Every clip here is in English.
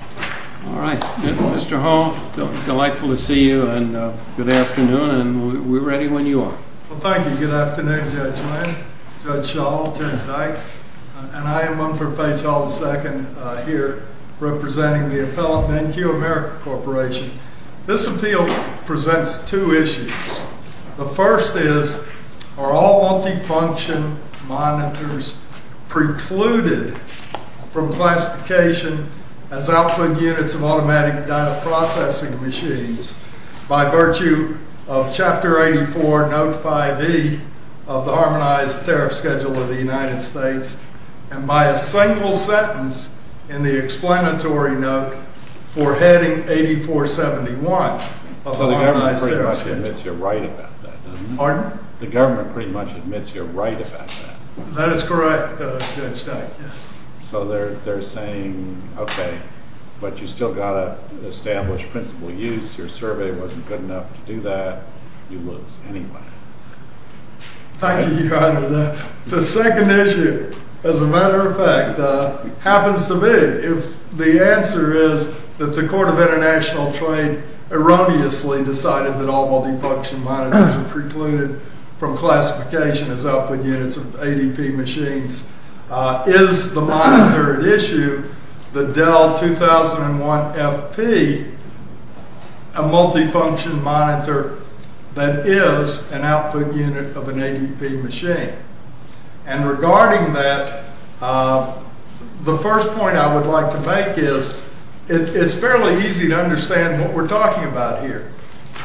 All right. Mr. Hall, delightful to see you, and good afternoon. And we're ready when you are. Well, thank you. Good afternoon, Judge Lane, Judge Schall, Judge Dyke. And I am one for Page Hall II here, representing the appellate NQ America Corporation. This appeal presents two issues. The first is, are all multifunction monitors precluded from classification as output units of automatic data processing machines by virtue of Chapter 84, Note 5e of the Harmonized Tariff Schedule of the United States, and by a single sentence in the explanatory note for Heading 8471 of the Harmonized Tariff Schedule. So the government pretty much admits you're right about that, doesn't it? Pardon? The government pretty much admits you're right about that. That is correct, Judge Dyke, yes. So they're saying, OK, but you've still got to establish principal use. Your survey wasn't good enough to do that. You lose anyway. Thank you, Your Honor. The second issue, as a matter of fact, happens to be. The answer is that the Court of International Trade erroneously decided that all multifunction monitors precluded from classification as output units of ADP machines is the monitor at issue, the Dell 2001FP, a multifunction monitor that is an output unit of an ADP machine. And regarding that, the first point I would like to make is, it's fairly easy to understand what we're talking about here.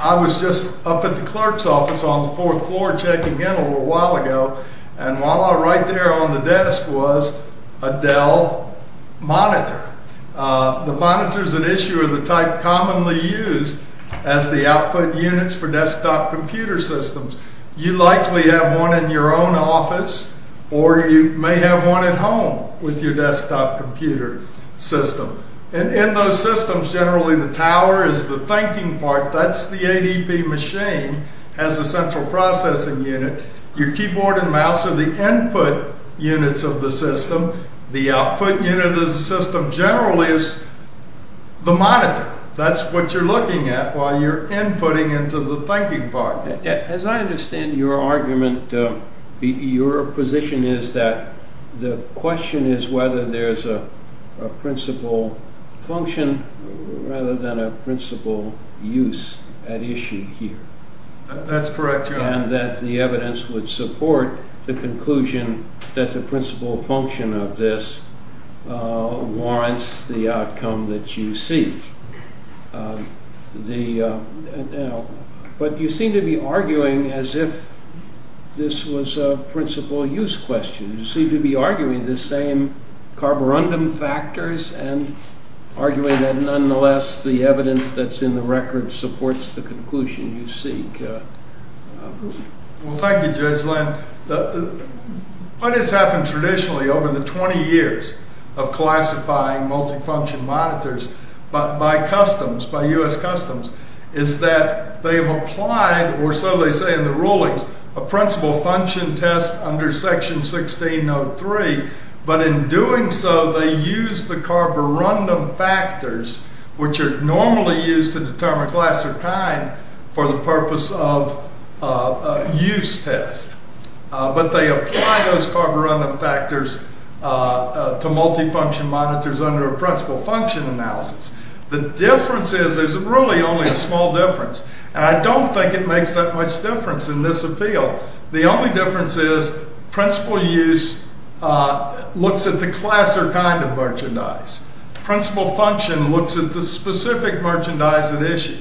I was just up at the clerk's office on the fourth floor checking in a little while ago, and voila, right there on the desk was a Dell monitor. The monitor's an issue of the type commonly used as the output units for desktop computer systems. You likely have one in your own office, or you may have one at home with your desktop computer system. And in those systems, generally the tower is the thinking part. That's the ADP machine, has a central processing unit. Your keyboard and mouse are the input units of the system. The output unit of the system generally is the monitor. That's what you're looking at while you're inputting into the thinking part. As I understand your argument, your position is that the question is whether there's a principal function rather than a principal use at issue here. That's correct, your honor. And that the evidence would support the conclusion that the principal function of this warrants the outcome that you seek. But you seem to be arguing as if this was a principal use question. You seem to be arguing the same carborundum factors and arguing that, nonetheless, the evidence that's in the record supports the conclusion you seek. Well, thank you, Judge Lynn. What has happened traditionally over the 20 years of classifying multifunction monitors by customs, by US customs, is that they have applied, or so they say in the rulings, a principal function test under section 1603. But in doing so, they use the carborundum factors, which are normally used to determine class or kind for the purpose of a use test. But they apply those carborundum factors to multifunction monitors under a principal function analysis. The difference is there's really only a small difference. And I don't think it makes that much difference in this appeal. The only difference is principal use looks at the class or kind of merchandise. Principal function looks at the specific merchandise at issue.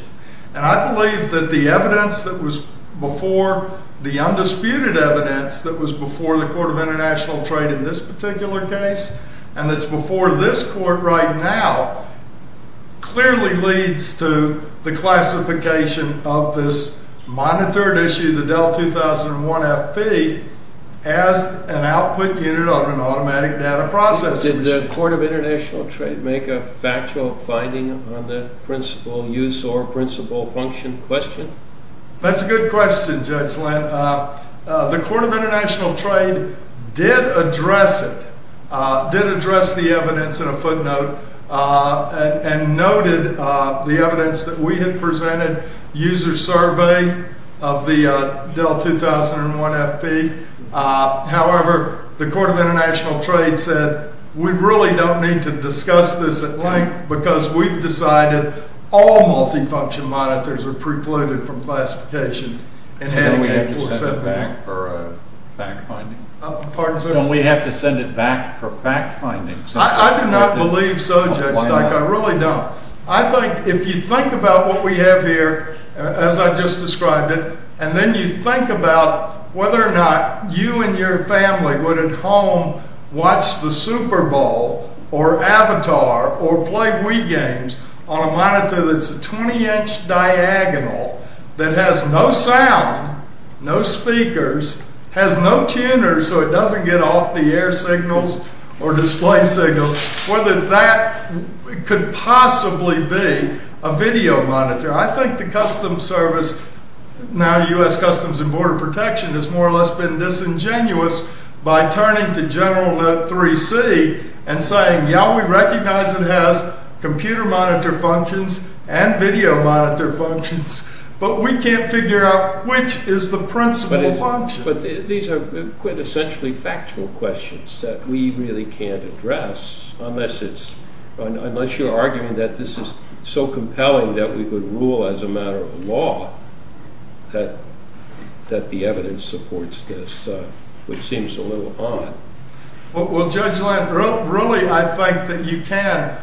And I believe that the evidence that was before the undisputed evidence that was before the Court of International Trade in this particular case, and that's before this court right now, clearly leads to the classification of this monitored issue, the DEL 2001 FP, as an output unit on an automatic data processing machine. Did the Court of International Trade make a factual finding on the principal use or principal function question? That's a good question, Judge Lent. The Court of International Trade did address it, did address the evidence in a footnote, and noted the evidence that we had presented, user survey of the DEL 2001 FP. However, the Court of International Trade said, we really don't need to discuss this at length because we've decided all multifunction monitors are precluded from classification and handing it to a subpoena. Don't we have to send it back for fact-finding? Pardon, sir? Don't we have to send it back for fact-finding? I do not believe so, Judge Steich. I really don't. If you think about what we have here, as I just described it, and then you think about whether or not you and your family would at home watch the Super Bowl or Avatar or play Wii games on a monitor that's a 20-inch diagonal, that has no sound, no speakers, has no tuners so it doesn't get off the air signals or display signals, whether that could possibly be a video monitor. I think the Customs Service, now US Customs and Border Protection, has more or less been disingenuous by turning to General Note 3C and saying, yeah, we recognize it has computer monitor functions and video monitor functions, but we can't figure out which is the principal function. But these are quintessentially factual questions that we really can't address, unless you're arguing that this is so compelling that we would rule as a matter of law that the evidence supports this, which seems a little odd. Well, Judge Landrieu, really, I think that you can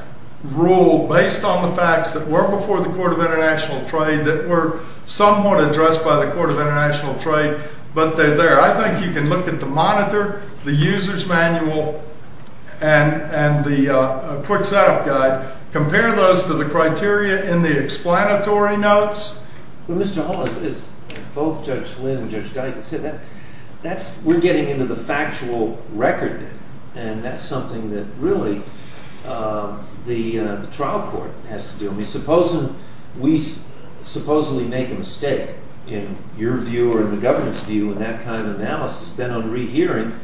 rule based on the facts that were before the Court of International Trade that were somewhat addressed by the Court of International Trade, but they're there. I think you can look at the monitor, the user's manual, and the quick setup guide, compare those to the criteria in the explanatory notes. Well, Mr. Hull, as both Judge Lynn and Judge Dyken said, we're getting into the factual record, and that's something that really the trial court has to do. We supposedly make a mistake, in your view or the government's view, in that kind of analysis. Then on rehearing,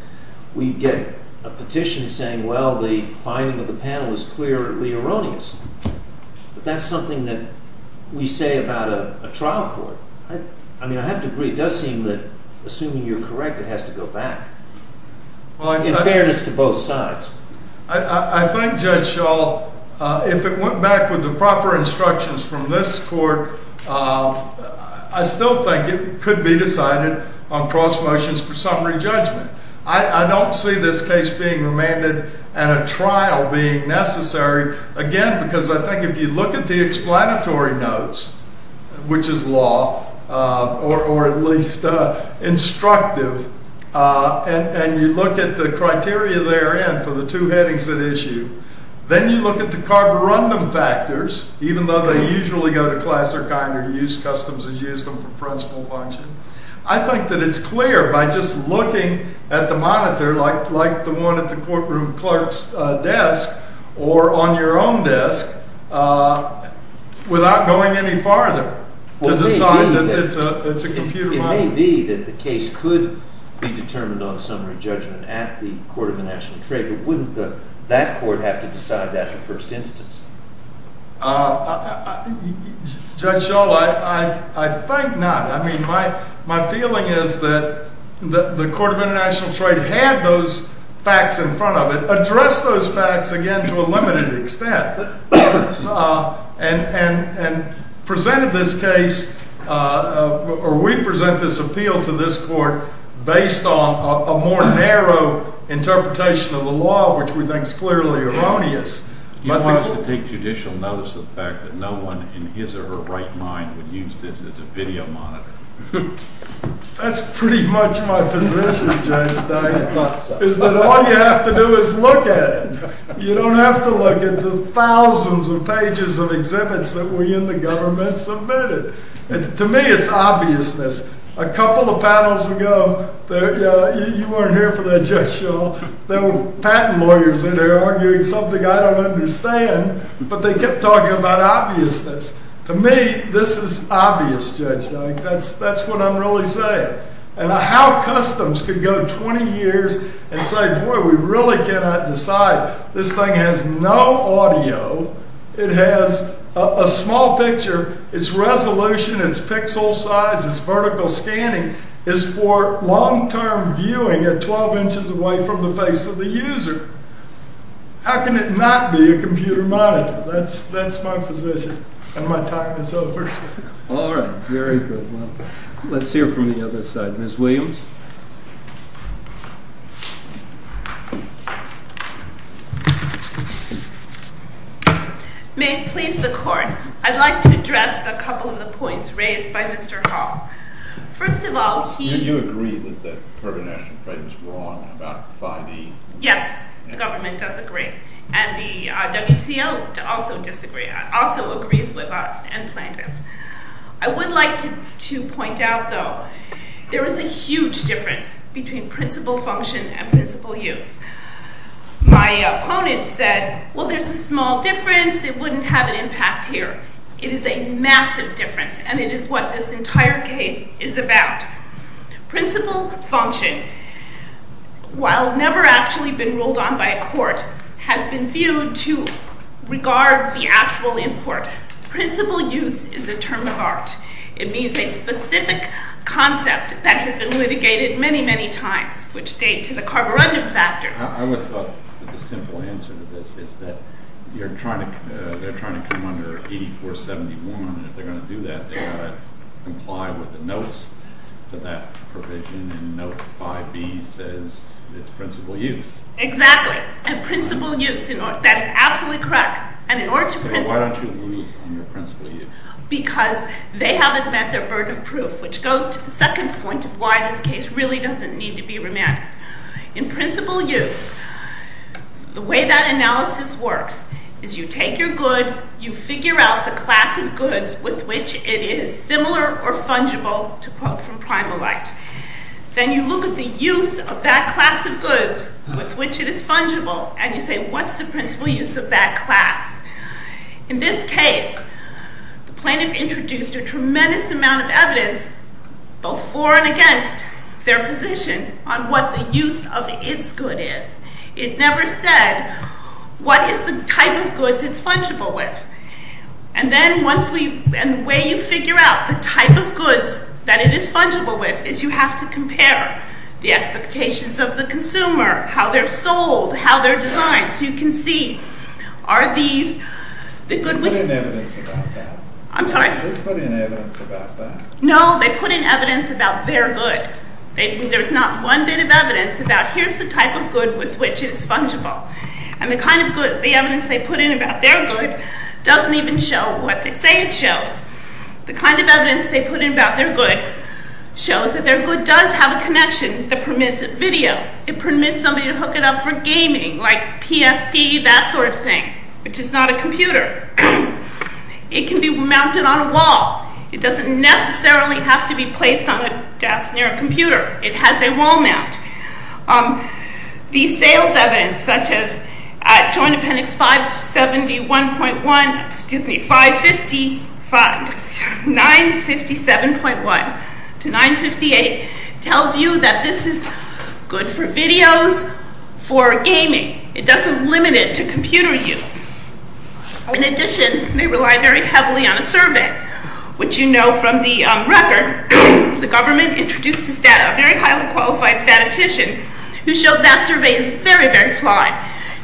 we get a petition saying, well, the finding of the panel is clearly erroneous. But that's something that we say about a trial court. I mean, I have to agree, it does seem that assuming you're correct, it has to go back, in fairness to both sides. I think, Judge Schall, if it went back with the proper instructions from this court, I still think it could be decided on cross motions for summary judgment. I don't see this case being remanded and a trial being necessary, again, because I think if you look at the explanatory notes, which is law, or at least instructive, and you look at the criteria therein for the two headings that issue, then you look at the carborundum factors, even though they usually go to class, or kind, or use customs as used in principal functions. I think that it's clear, by just looking at the monitor, like the one at the courtroom clerk's desk, or on your own desk, without going any farther, to decide that it's a computer monitor. It may be that the case could be determined on summary judgment at the Court of the National Trade, but wouldn't that court have to decide that in the first instance? Judge Shull, I think not. I mean, my feeling is that the Court of International Trade had those facts in front of it, addressed those facts, again, to a limited extent, and presented this case, or we present this appeal to this court, based on a more narrow interpretation of the law, which we think is clearly erroneous. You want us to take judicial notice of the fact that no one, in his or her right mind, would use this as a video monitor? That's pretty much my position, Judge Dyer, is that all you have to do is look at it. You don't have to look at the thousands of pages of exhibits that we in the government submitted. To me, it's obviousness. A couple of panels ago, you weren't here for that, Judge Shull. There were patent lawyers in there arguing something I don't understand, but they kept talking about obviousness. To me, this is obvious, Judge Dyer. That's what I'm really saying. And how customs could go 20 years and say, boy, we really cannot decide. This thing has no audio. It has a small picture. Its resolution, its pixel size, its vertical scanning is for long-term viewing at 12 inches away from the face of the user. How can it not be a computer monitor? That's my position, and my time is over. All right, very good. Let's hear from the other side. Ms. Williams? May it please the court, I'd like to address a couple of the points raised by Mr. Hall. First of all, he- Do you agree that the Kirby National Crime was wrong about 5E? Yes, the government does agree. And the WTO also disagrees with us and plaintiffs. I would like to point out, though, there is a huge difference between principal function and principal use. My opponent said, well, there's a small difference. It wouldn't have an impact here. It is a massive difference, and it is what this entire case is about. Principal function, while never actually been ruled on by a court, has been viewed to regard the actual import. Principal use is a term of art. It means a specific concept that has been litigated many, many times, which date to the carborundum factors. I would have thought that the simple answer to this is that they're trying to come under 8471, and if they're going to do that, they've got to have that provision in Note 5B says it's principal use. Exactly. And principal use, that is absolutely correct. And in order to principal- So why don't you lose on your principal use? Because they haven't met their burden of proof, which goes to the second point of why this case really doesn't need to be remanded. In principal use, the way that analysis works is you take your good, you figure out the class of goods with which it is similar or fungible, to quote from Primal Act. Then you look at the use of that class of goods with which it is fungible, and you say, what's the principal use of that class? In this case, the plaintiff introduced a tremendous amount of evidence, both for and against their position on what the use of its good is. It never said, what is the type of goods it's fungible with? And then once we, and the way you figure out the type of goods that it is fungible with is you have to compare the expectations of the consumer, how they're sold, how they're designed. So you can see, are these, the good- They put in evidence about that. I'm sorry. They put in evidence about that. No, they put in evidence about their good. There's not one bit of evidence about, here's the type of good with which it's fungible. And the kind of good, the evidence they put in about their good doesn't even show what they say it shows. The kind of evidence they put in about their good shows that their good does have a connection that permits video. It permits somebody to hook it up for gaming, like PSP, that sort of thing, which is not a computer. It can be mounted on a wall. It doesn't necessarily have to be placed on a desk near a computer. It has a wall mount. The sales evidence, such as at Joint Appendix 571.1, excuse me, 555, 957.1 to 958, tells you that this is good for videos, for gaming. It doesn't limit it to computer use. In addition, they rely very heavily on a survey, which you know from the record, the government introduced this data, a very highly qualified statistician who showed that survey is very, very flawed.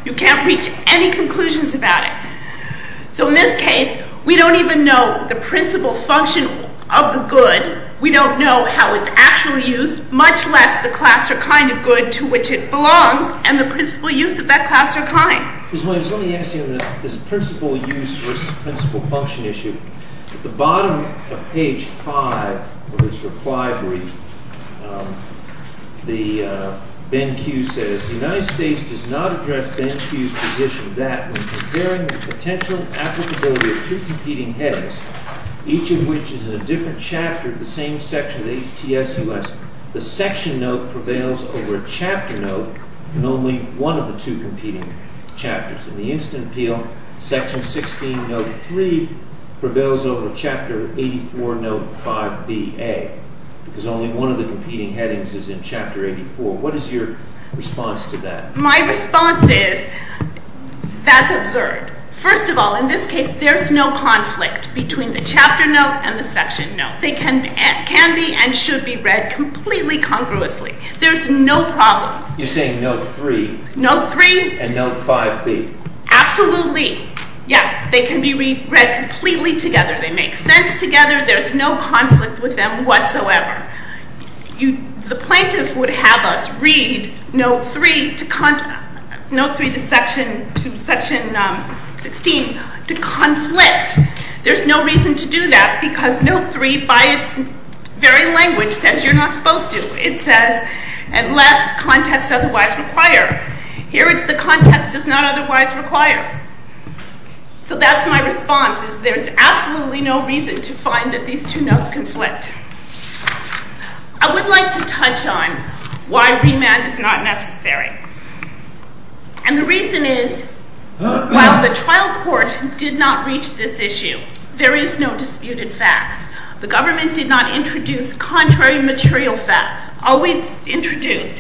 You can't reach any conclusions about it. So in this case, we don't even know the principal function of the good. We don't know how it's actually used, much less the class or kind of good to which it belongs and the principal use of that class or kind. Ms. Williams, let me ask you this principal use versus principal function issue. At the bottom of page five of this reply brief, the, Ben Q says, the United States does not address Ben Q's position that when comparing the potential applicability of two competing headings, each of which is in a different chapter of the same section of the HTSUS, the section note prevails over a chapter note in only one of the two competing chapters. In the instant appeal, section 16, note three prevails over chapter 84, note five B, A, because only one of the competing headings is in chapter 84. What is your response to that? My response is, that's absurd. First of all, in this case, there's no conflict between the chapter note and the section note. They can be and should be read completely congruously. There's no problems. You're saying note three. Note three. And note five B. Absolutely, yes, they can be read completely together. They make sense together. There's no conflict with them whatsoever. The plaintiff would have us read note three to section 16 to conflict. There's no reason to do that, because note three, by its very language, says you're not supposed to. It says, unless context otherwise require. Here, the context does not otherwise require. So that's my response, is there's absolutely no reason to find that these two notes conflict. I would like to touch on why remand is not necessary. And the reason is, while the trial court did not reach this issue, there is no disputed facts. The government did not introduce contrary material facts. All we introduced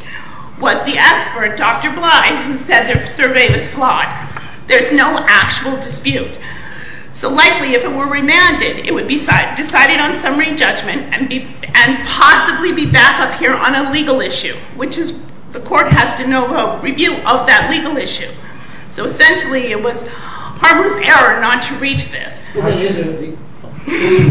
was the expert, Dr. Bly, who said their survey was flawed. There's no actual dispute. So likely, if it were remanded, it would be decided on summary judgment and possibly be back up here on a legal issue, which is, the court has to know review of that legal issue. So essentially, it was harmless error not to reach this.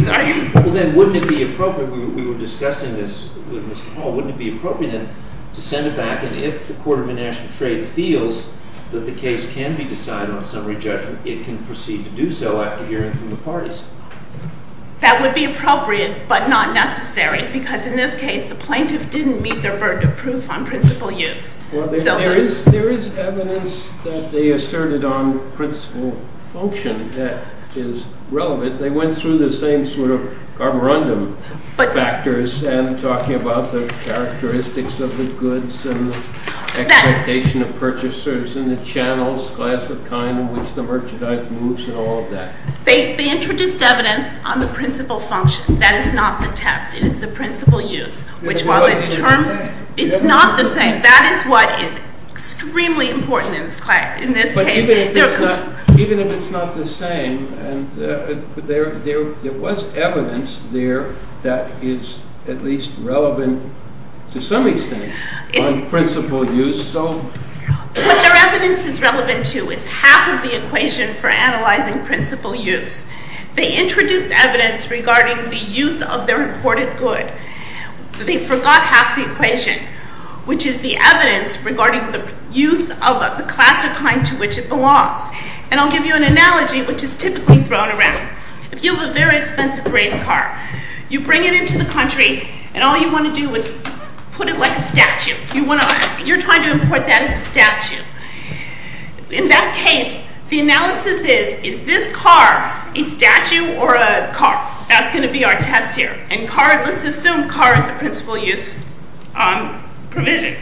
Sorry. Well then, wouldn't it be appropriate, we were discussing this with Ms. Hall, wouldn't it be appropriate then to send it back, and if the Court of International Trade feels that the case can be decided on summary judgment, it can proceed to do so after hearing from the parties. That would be appropriate, but not necessary, because in this case, the plaintiff didn't meet their burden of proof on principal use. Well, there is evidence that they asserted on principal function that is relevant. They went through the same sort of carborundum factors and talking about the characteristics of the goods and the expectation of purchasers and the channels, class of kind in which the merchandise moves and all of that. They introduced evidence on the principal function. That is not the test. It is the principal use, which while the terms, it's not the same. That is what is extremely important in this case. But even if it's not the same, and there was evidence there that is at least relevant to some extent on principal use, so. What their evidence is relevant to is half of the equation for analyzing principal use. They introduced evidence regarding the use of their imported good. They forgot half the equation, which is the evidence regarding the use of the class or kind to which it belongs. And I'll give you an analogy, which is typically thrown around. If you have a very expensive race car, you bring it into the country, and all you want to do is put it like a statue. You're trying to import that as a statue. In that case, the analysis is, is this car a statue or a car? That's gonna be our test here. And car, let's assume car is a principal use provision.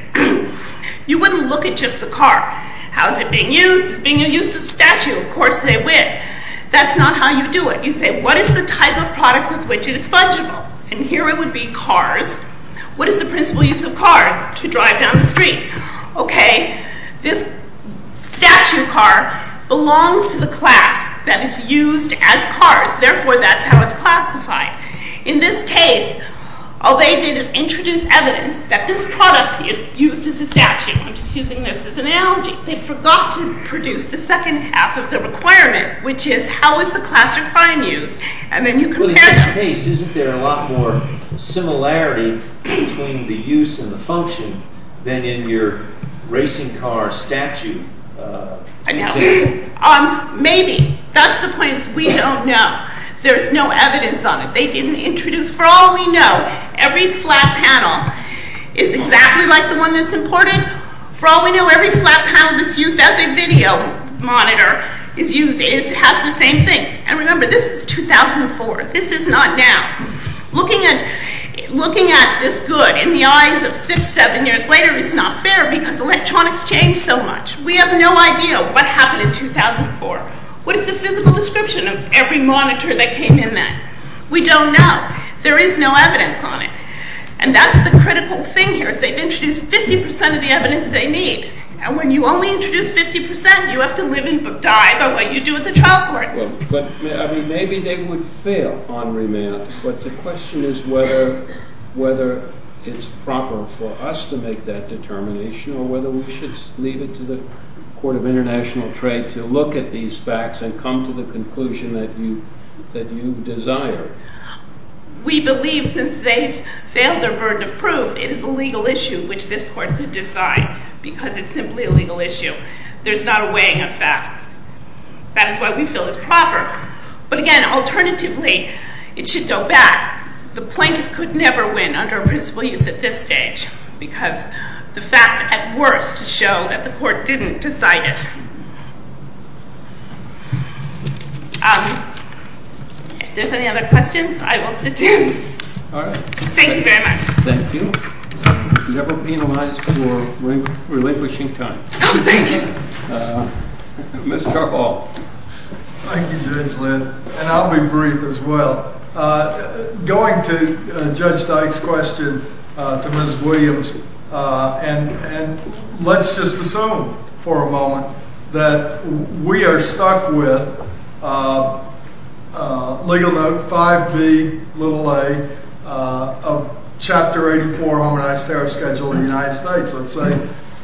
You wouldn't look at just the car. How is it being used? Is it being used as a statue? Of course they would. That's not how you do it. You say, what is the type of product with which it is fungible? And here it would be cars. What is the principal use of cars to drive down the street? Okay, this statue car belongs to the class that is used as cars. Therefore, that's how it's classified. In this case, all they did is introduce evidence that this product is used as a statue. I'm just using this as an analogy. They forgot to produce the second half of the requirement, which is how is the class or kind used? And then you compare them. between the use and the function than in your racing car statue. Maybe, that's the point is we don't know. There's no evidence on it. They didn't introduce. For all we know, every flat panel is exactly like the one that's important. For all we know, every flat panel that's used as a video monitor has the same things. And remember, this is 2004. This is not now. Looking at this good in the eyes of six, seven years later is not fair because electronics changed so much. We have no idea what happened in 2004. What is the physical description of every monitor that came in then? We don't know. There is no evidence on it. And that's the critical thing here is they've introduced 50% of the evidence they need. And when you only introduce 50%, you have to live and die by what you do as a child court. But maybe they would fail on remand. But the question is whether it's proper for us to make that determination or whether we should leave it to the Court of International Trade to look at these facts and come to the conclusion that you desire. We believe since they've failed their burden of proof, it is a legal issue which this court could decide because it's simply a legal issue. There's not a weighing of facts. That is why we feel it's proper. But again, alternatively, it should go back. The plaintiff could never win under principle use at this stage because the facts, at worst, show that the court didn't decide it. If there's any other questions, I will sit down. Thank you very much. Thank you. Never penalize for relinquishing time. Oh, thank you. Mr. Hall. Thank you, Judge Linn. And I'll be brief as well. Going to Judge Dyke's question to Ms. Williams, and let's just assume for a moment that we are stuck with legal note 5B, little a, of Chapter 84, Harmonized Terror Schedule of the United States.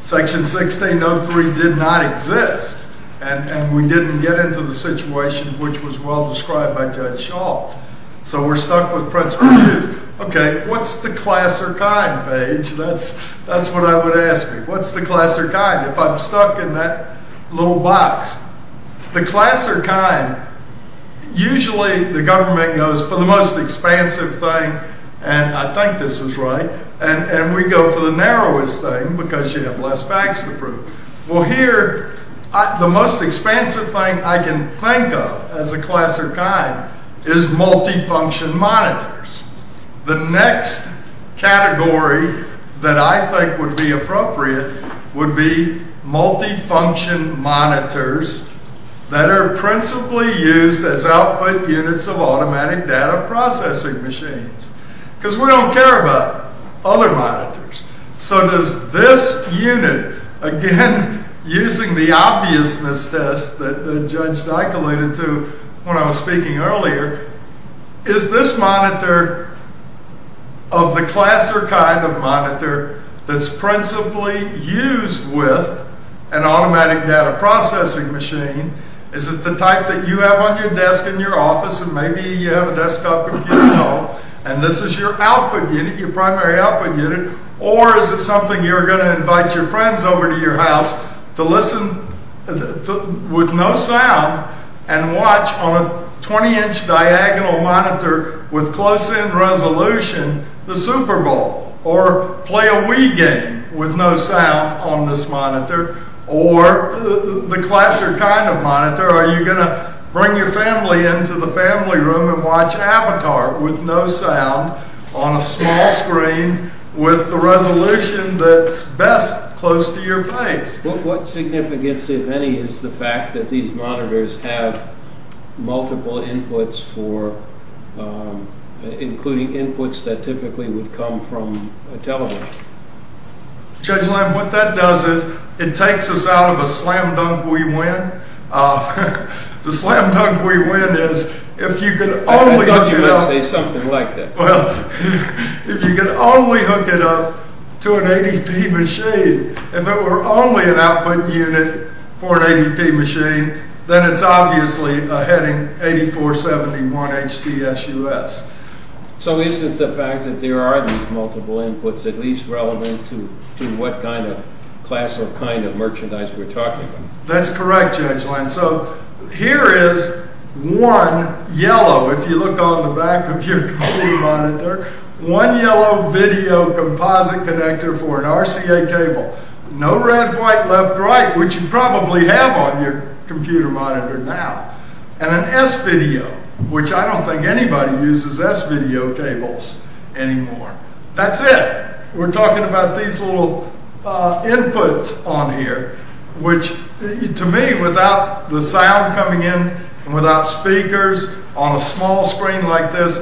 Section 1603 did not exist, and we didn't get into the situation which was well-described by Judge Schall. So we're stuck with principle use. OK, what's the class or kind, Paige? That's what I would ask you. What's the class or kind if I'm stuck in that little box? The class or kind, usually the government goes for the most expansive thing, and I think this is right. And we go for the narrowest thing because you have less facts to prove. Well, here, the most expansive thing I can think of as a class or kind is multifunction monitors. The next category that I think would be appropriate would be multifunction monitors that are principally used as output units of automatic data processing machines. Because we don't care about other monitors. So does this unit, again, using the obviousness test that Judge Dyke alluded to when I was speaking earlier, is this monitor of the class or kind of monitor that's principally used with an automatic data processing machine? Is it the type that you have on your desk in your office, and maybe you have a desktop computer at home, and this is your output unit, your primary output unit? Or is it something you're going to invite your friends over to your house to listen with no sound and watch on a 20-inch diagonal monitor with close-in resolution the Super Bowl? Or play a Wii game with no sound on this monitor? Or the class or kind of monitor, are you going to bring your family into the family room and watch Avatar with no sound on a small screen with the resolution that's best close to your face? What significance, if any, is the fact that these monitors have multiple inputs for including inputs that typically would come from a television? Judge Lamb, what that does is it takes us out of a slam dunk we win. The slam dunk we win is if you could only hook it up. I thought you meant to say something like that. Well, if you could only hook it up to an ADP machine, if it were only an output unit for an ADP machine, then it's obviously a heading 8471 HDSUS. So is it the fact that there are these multiple inputs at least relevant to what kind of class or kind of merchandise we're talking about? That's correct, Judge Lamb. So here is one yellow, if you look on the back of your computer monitor, one yellow video composite connector for an RCA cable. No red, white, left, right, which you probably have on your computer monitor now. And an S-video, which I don't think anybody uses S-video cables anymore. That's it. We're talking about these little inputs on here, which to me, without the sound coming in and without speakers on a small screen like this,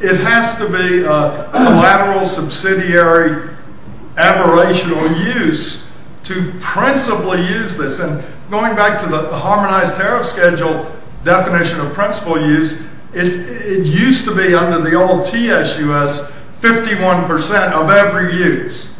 it has to be a lateral subsidiary aberrational use to principally use this. And going back to the harmonized tariff schedule definition of principal use, it used to be under the old TSUS 51% of every use.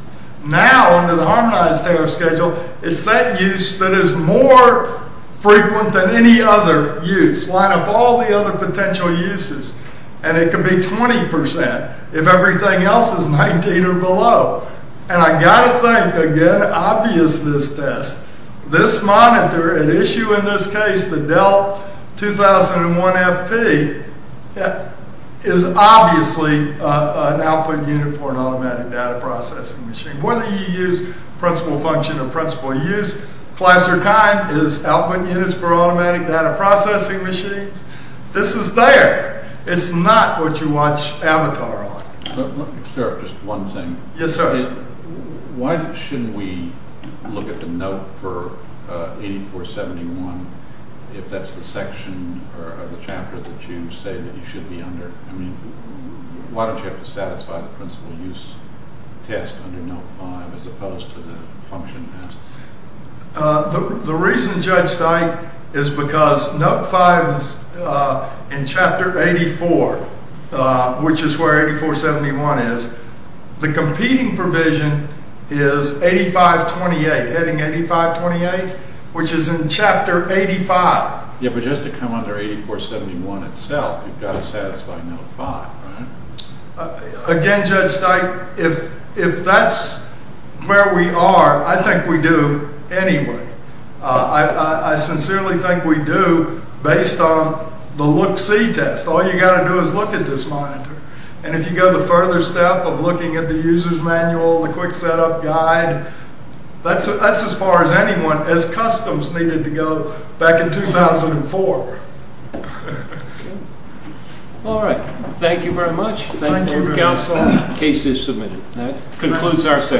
Now under the harmonized tariff schedule, it's that use that is more frequent than any other use. Line up all the other potential uses, and it could be 20% if everything else is 19 or below. And I gotta think, again, obvious this test. This monitor, an issue in this case, the Dell 2001FP, is obviously an output unit for an automatic data processing machine. Whether you use principal function or principal use, class or kind is output units for automatic data processing machines. This is there. It's not what you watch Avatar on. Sarah, just one thing. Yes, sir. Why shouldn't we look at the note for 8471, if that's the section or the chapter that you say that you should be under? I mean, why don't you have to satisfy the principal use test under note five, as opposed to the function test? The reason, Judge Steik, is because note five is in chapter 84, which is where 8471 is. The competing provision is 8528, heading 8528, which is in chapter 85. Yeah, but just to come under 8471 itself, you've gotta satisfy note five, right? Again, Judge Steik, if that's where we are, I think we do anyway. I sincerely think we do, based on the look-see test. All you gotta do is look at this monitor. And if you go the further step of looking at the user's manual, the quick setup guide, that's as far as anyone, as customs needed to go back in 2004. All right, thank you very much. Thank you, counsel, case is submitted. That concludes our session.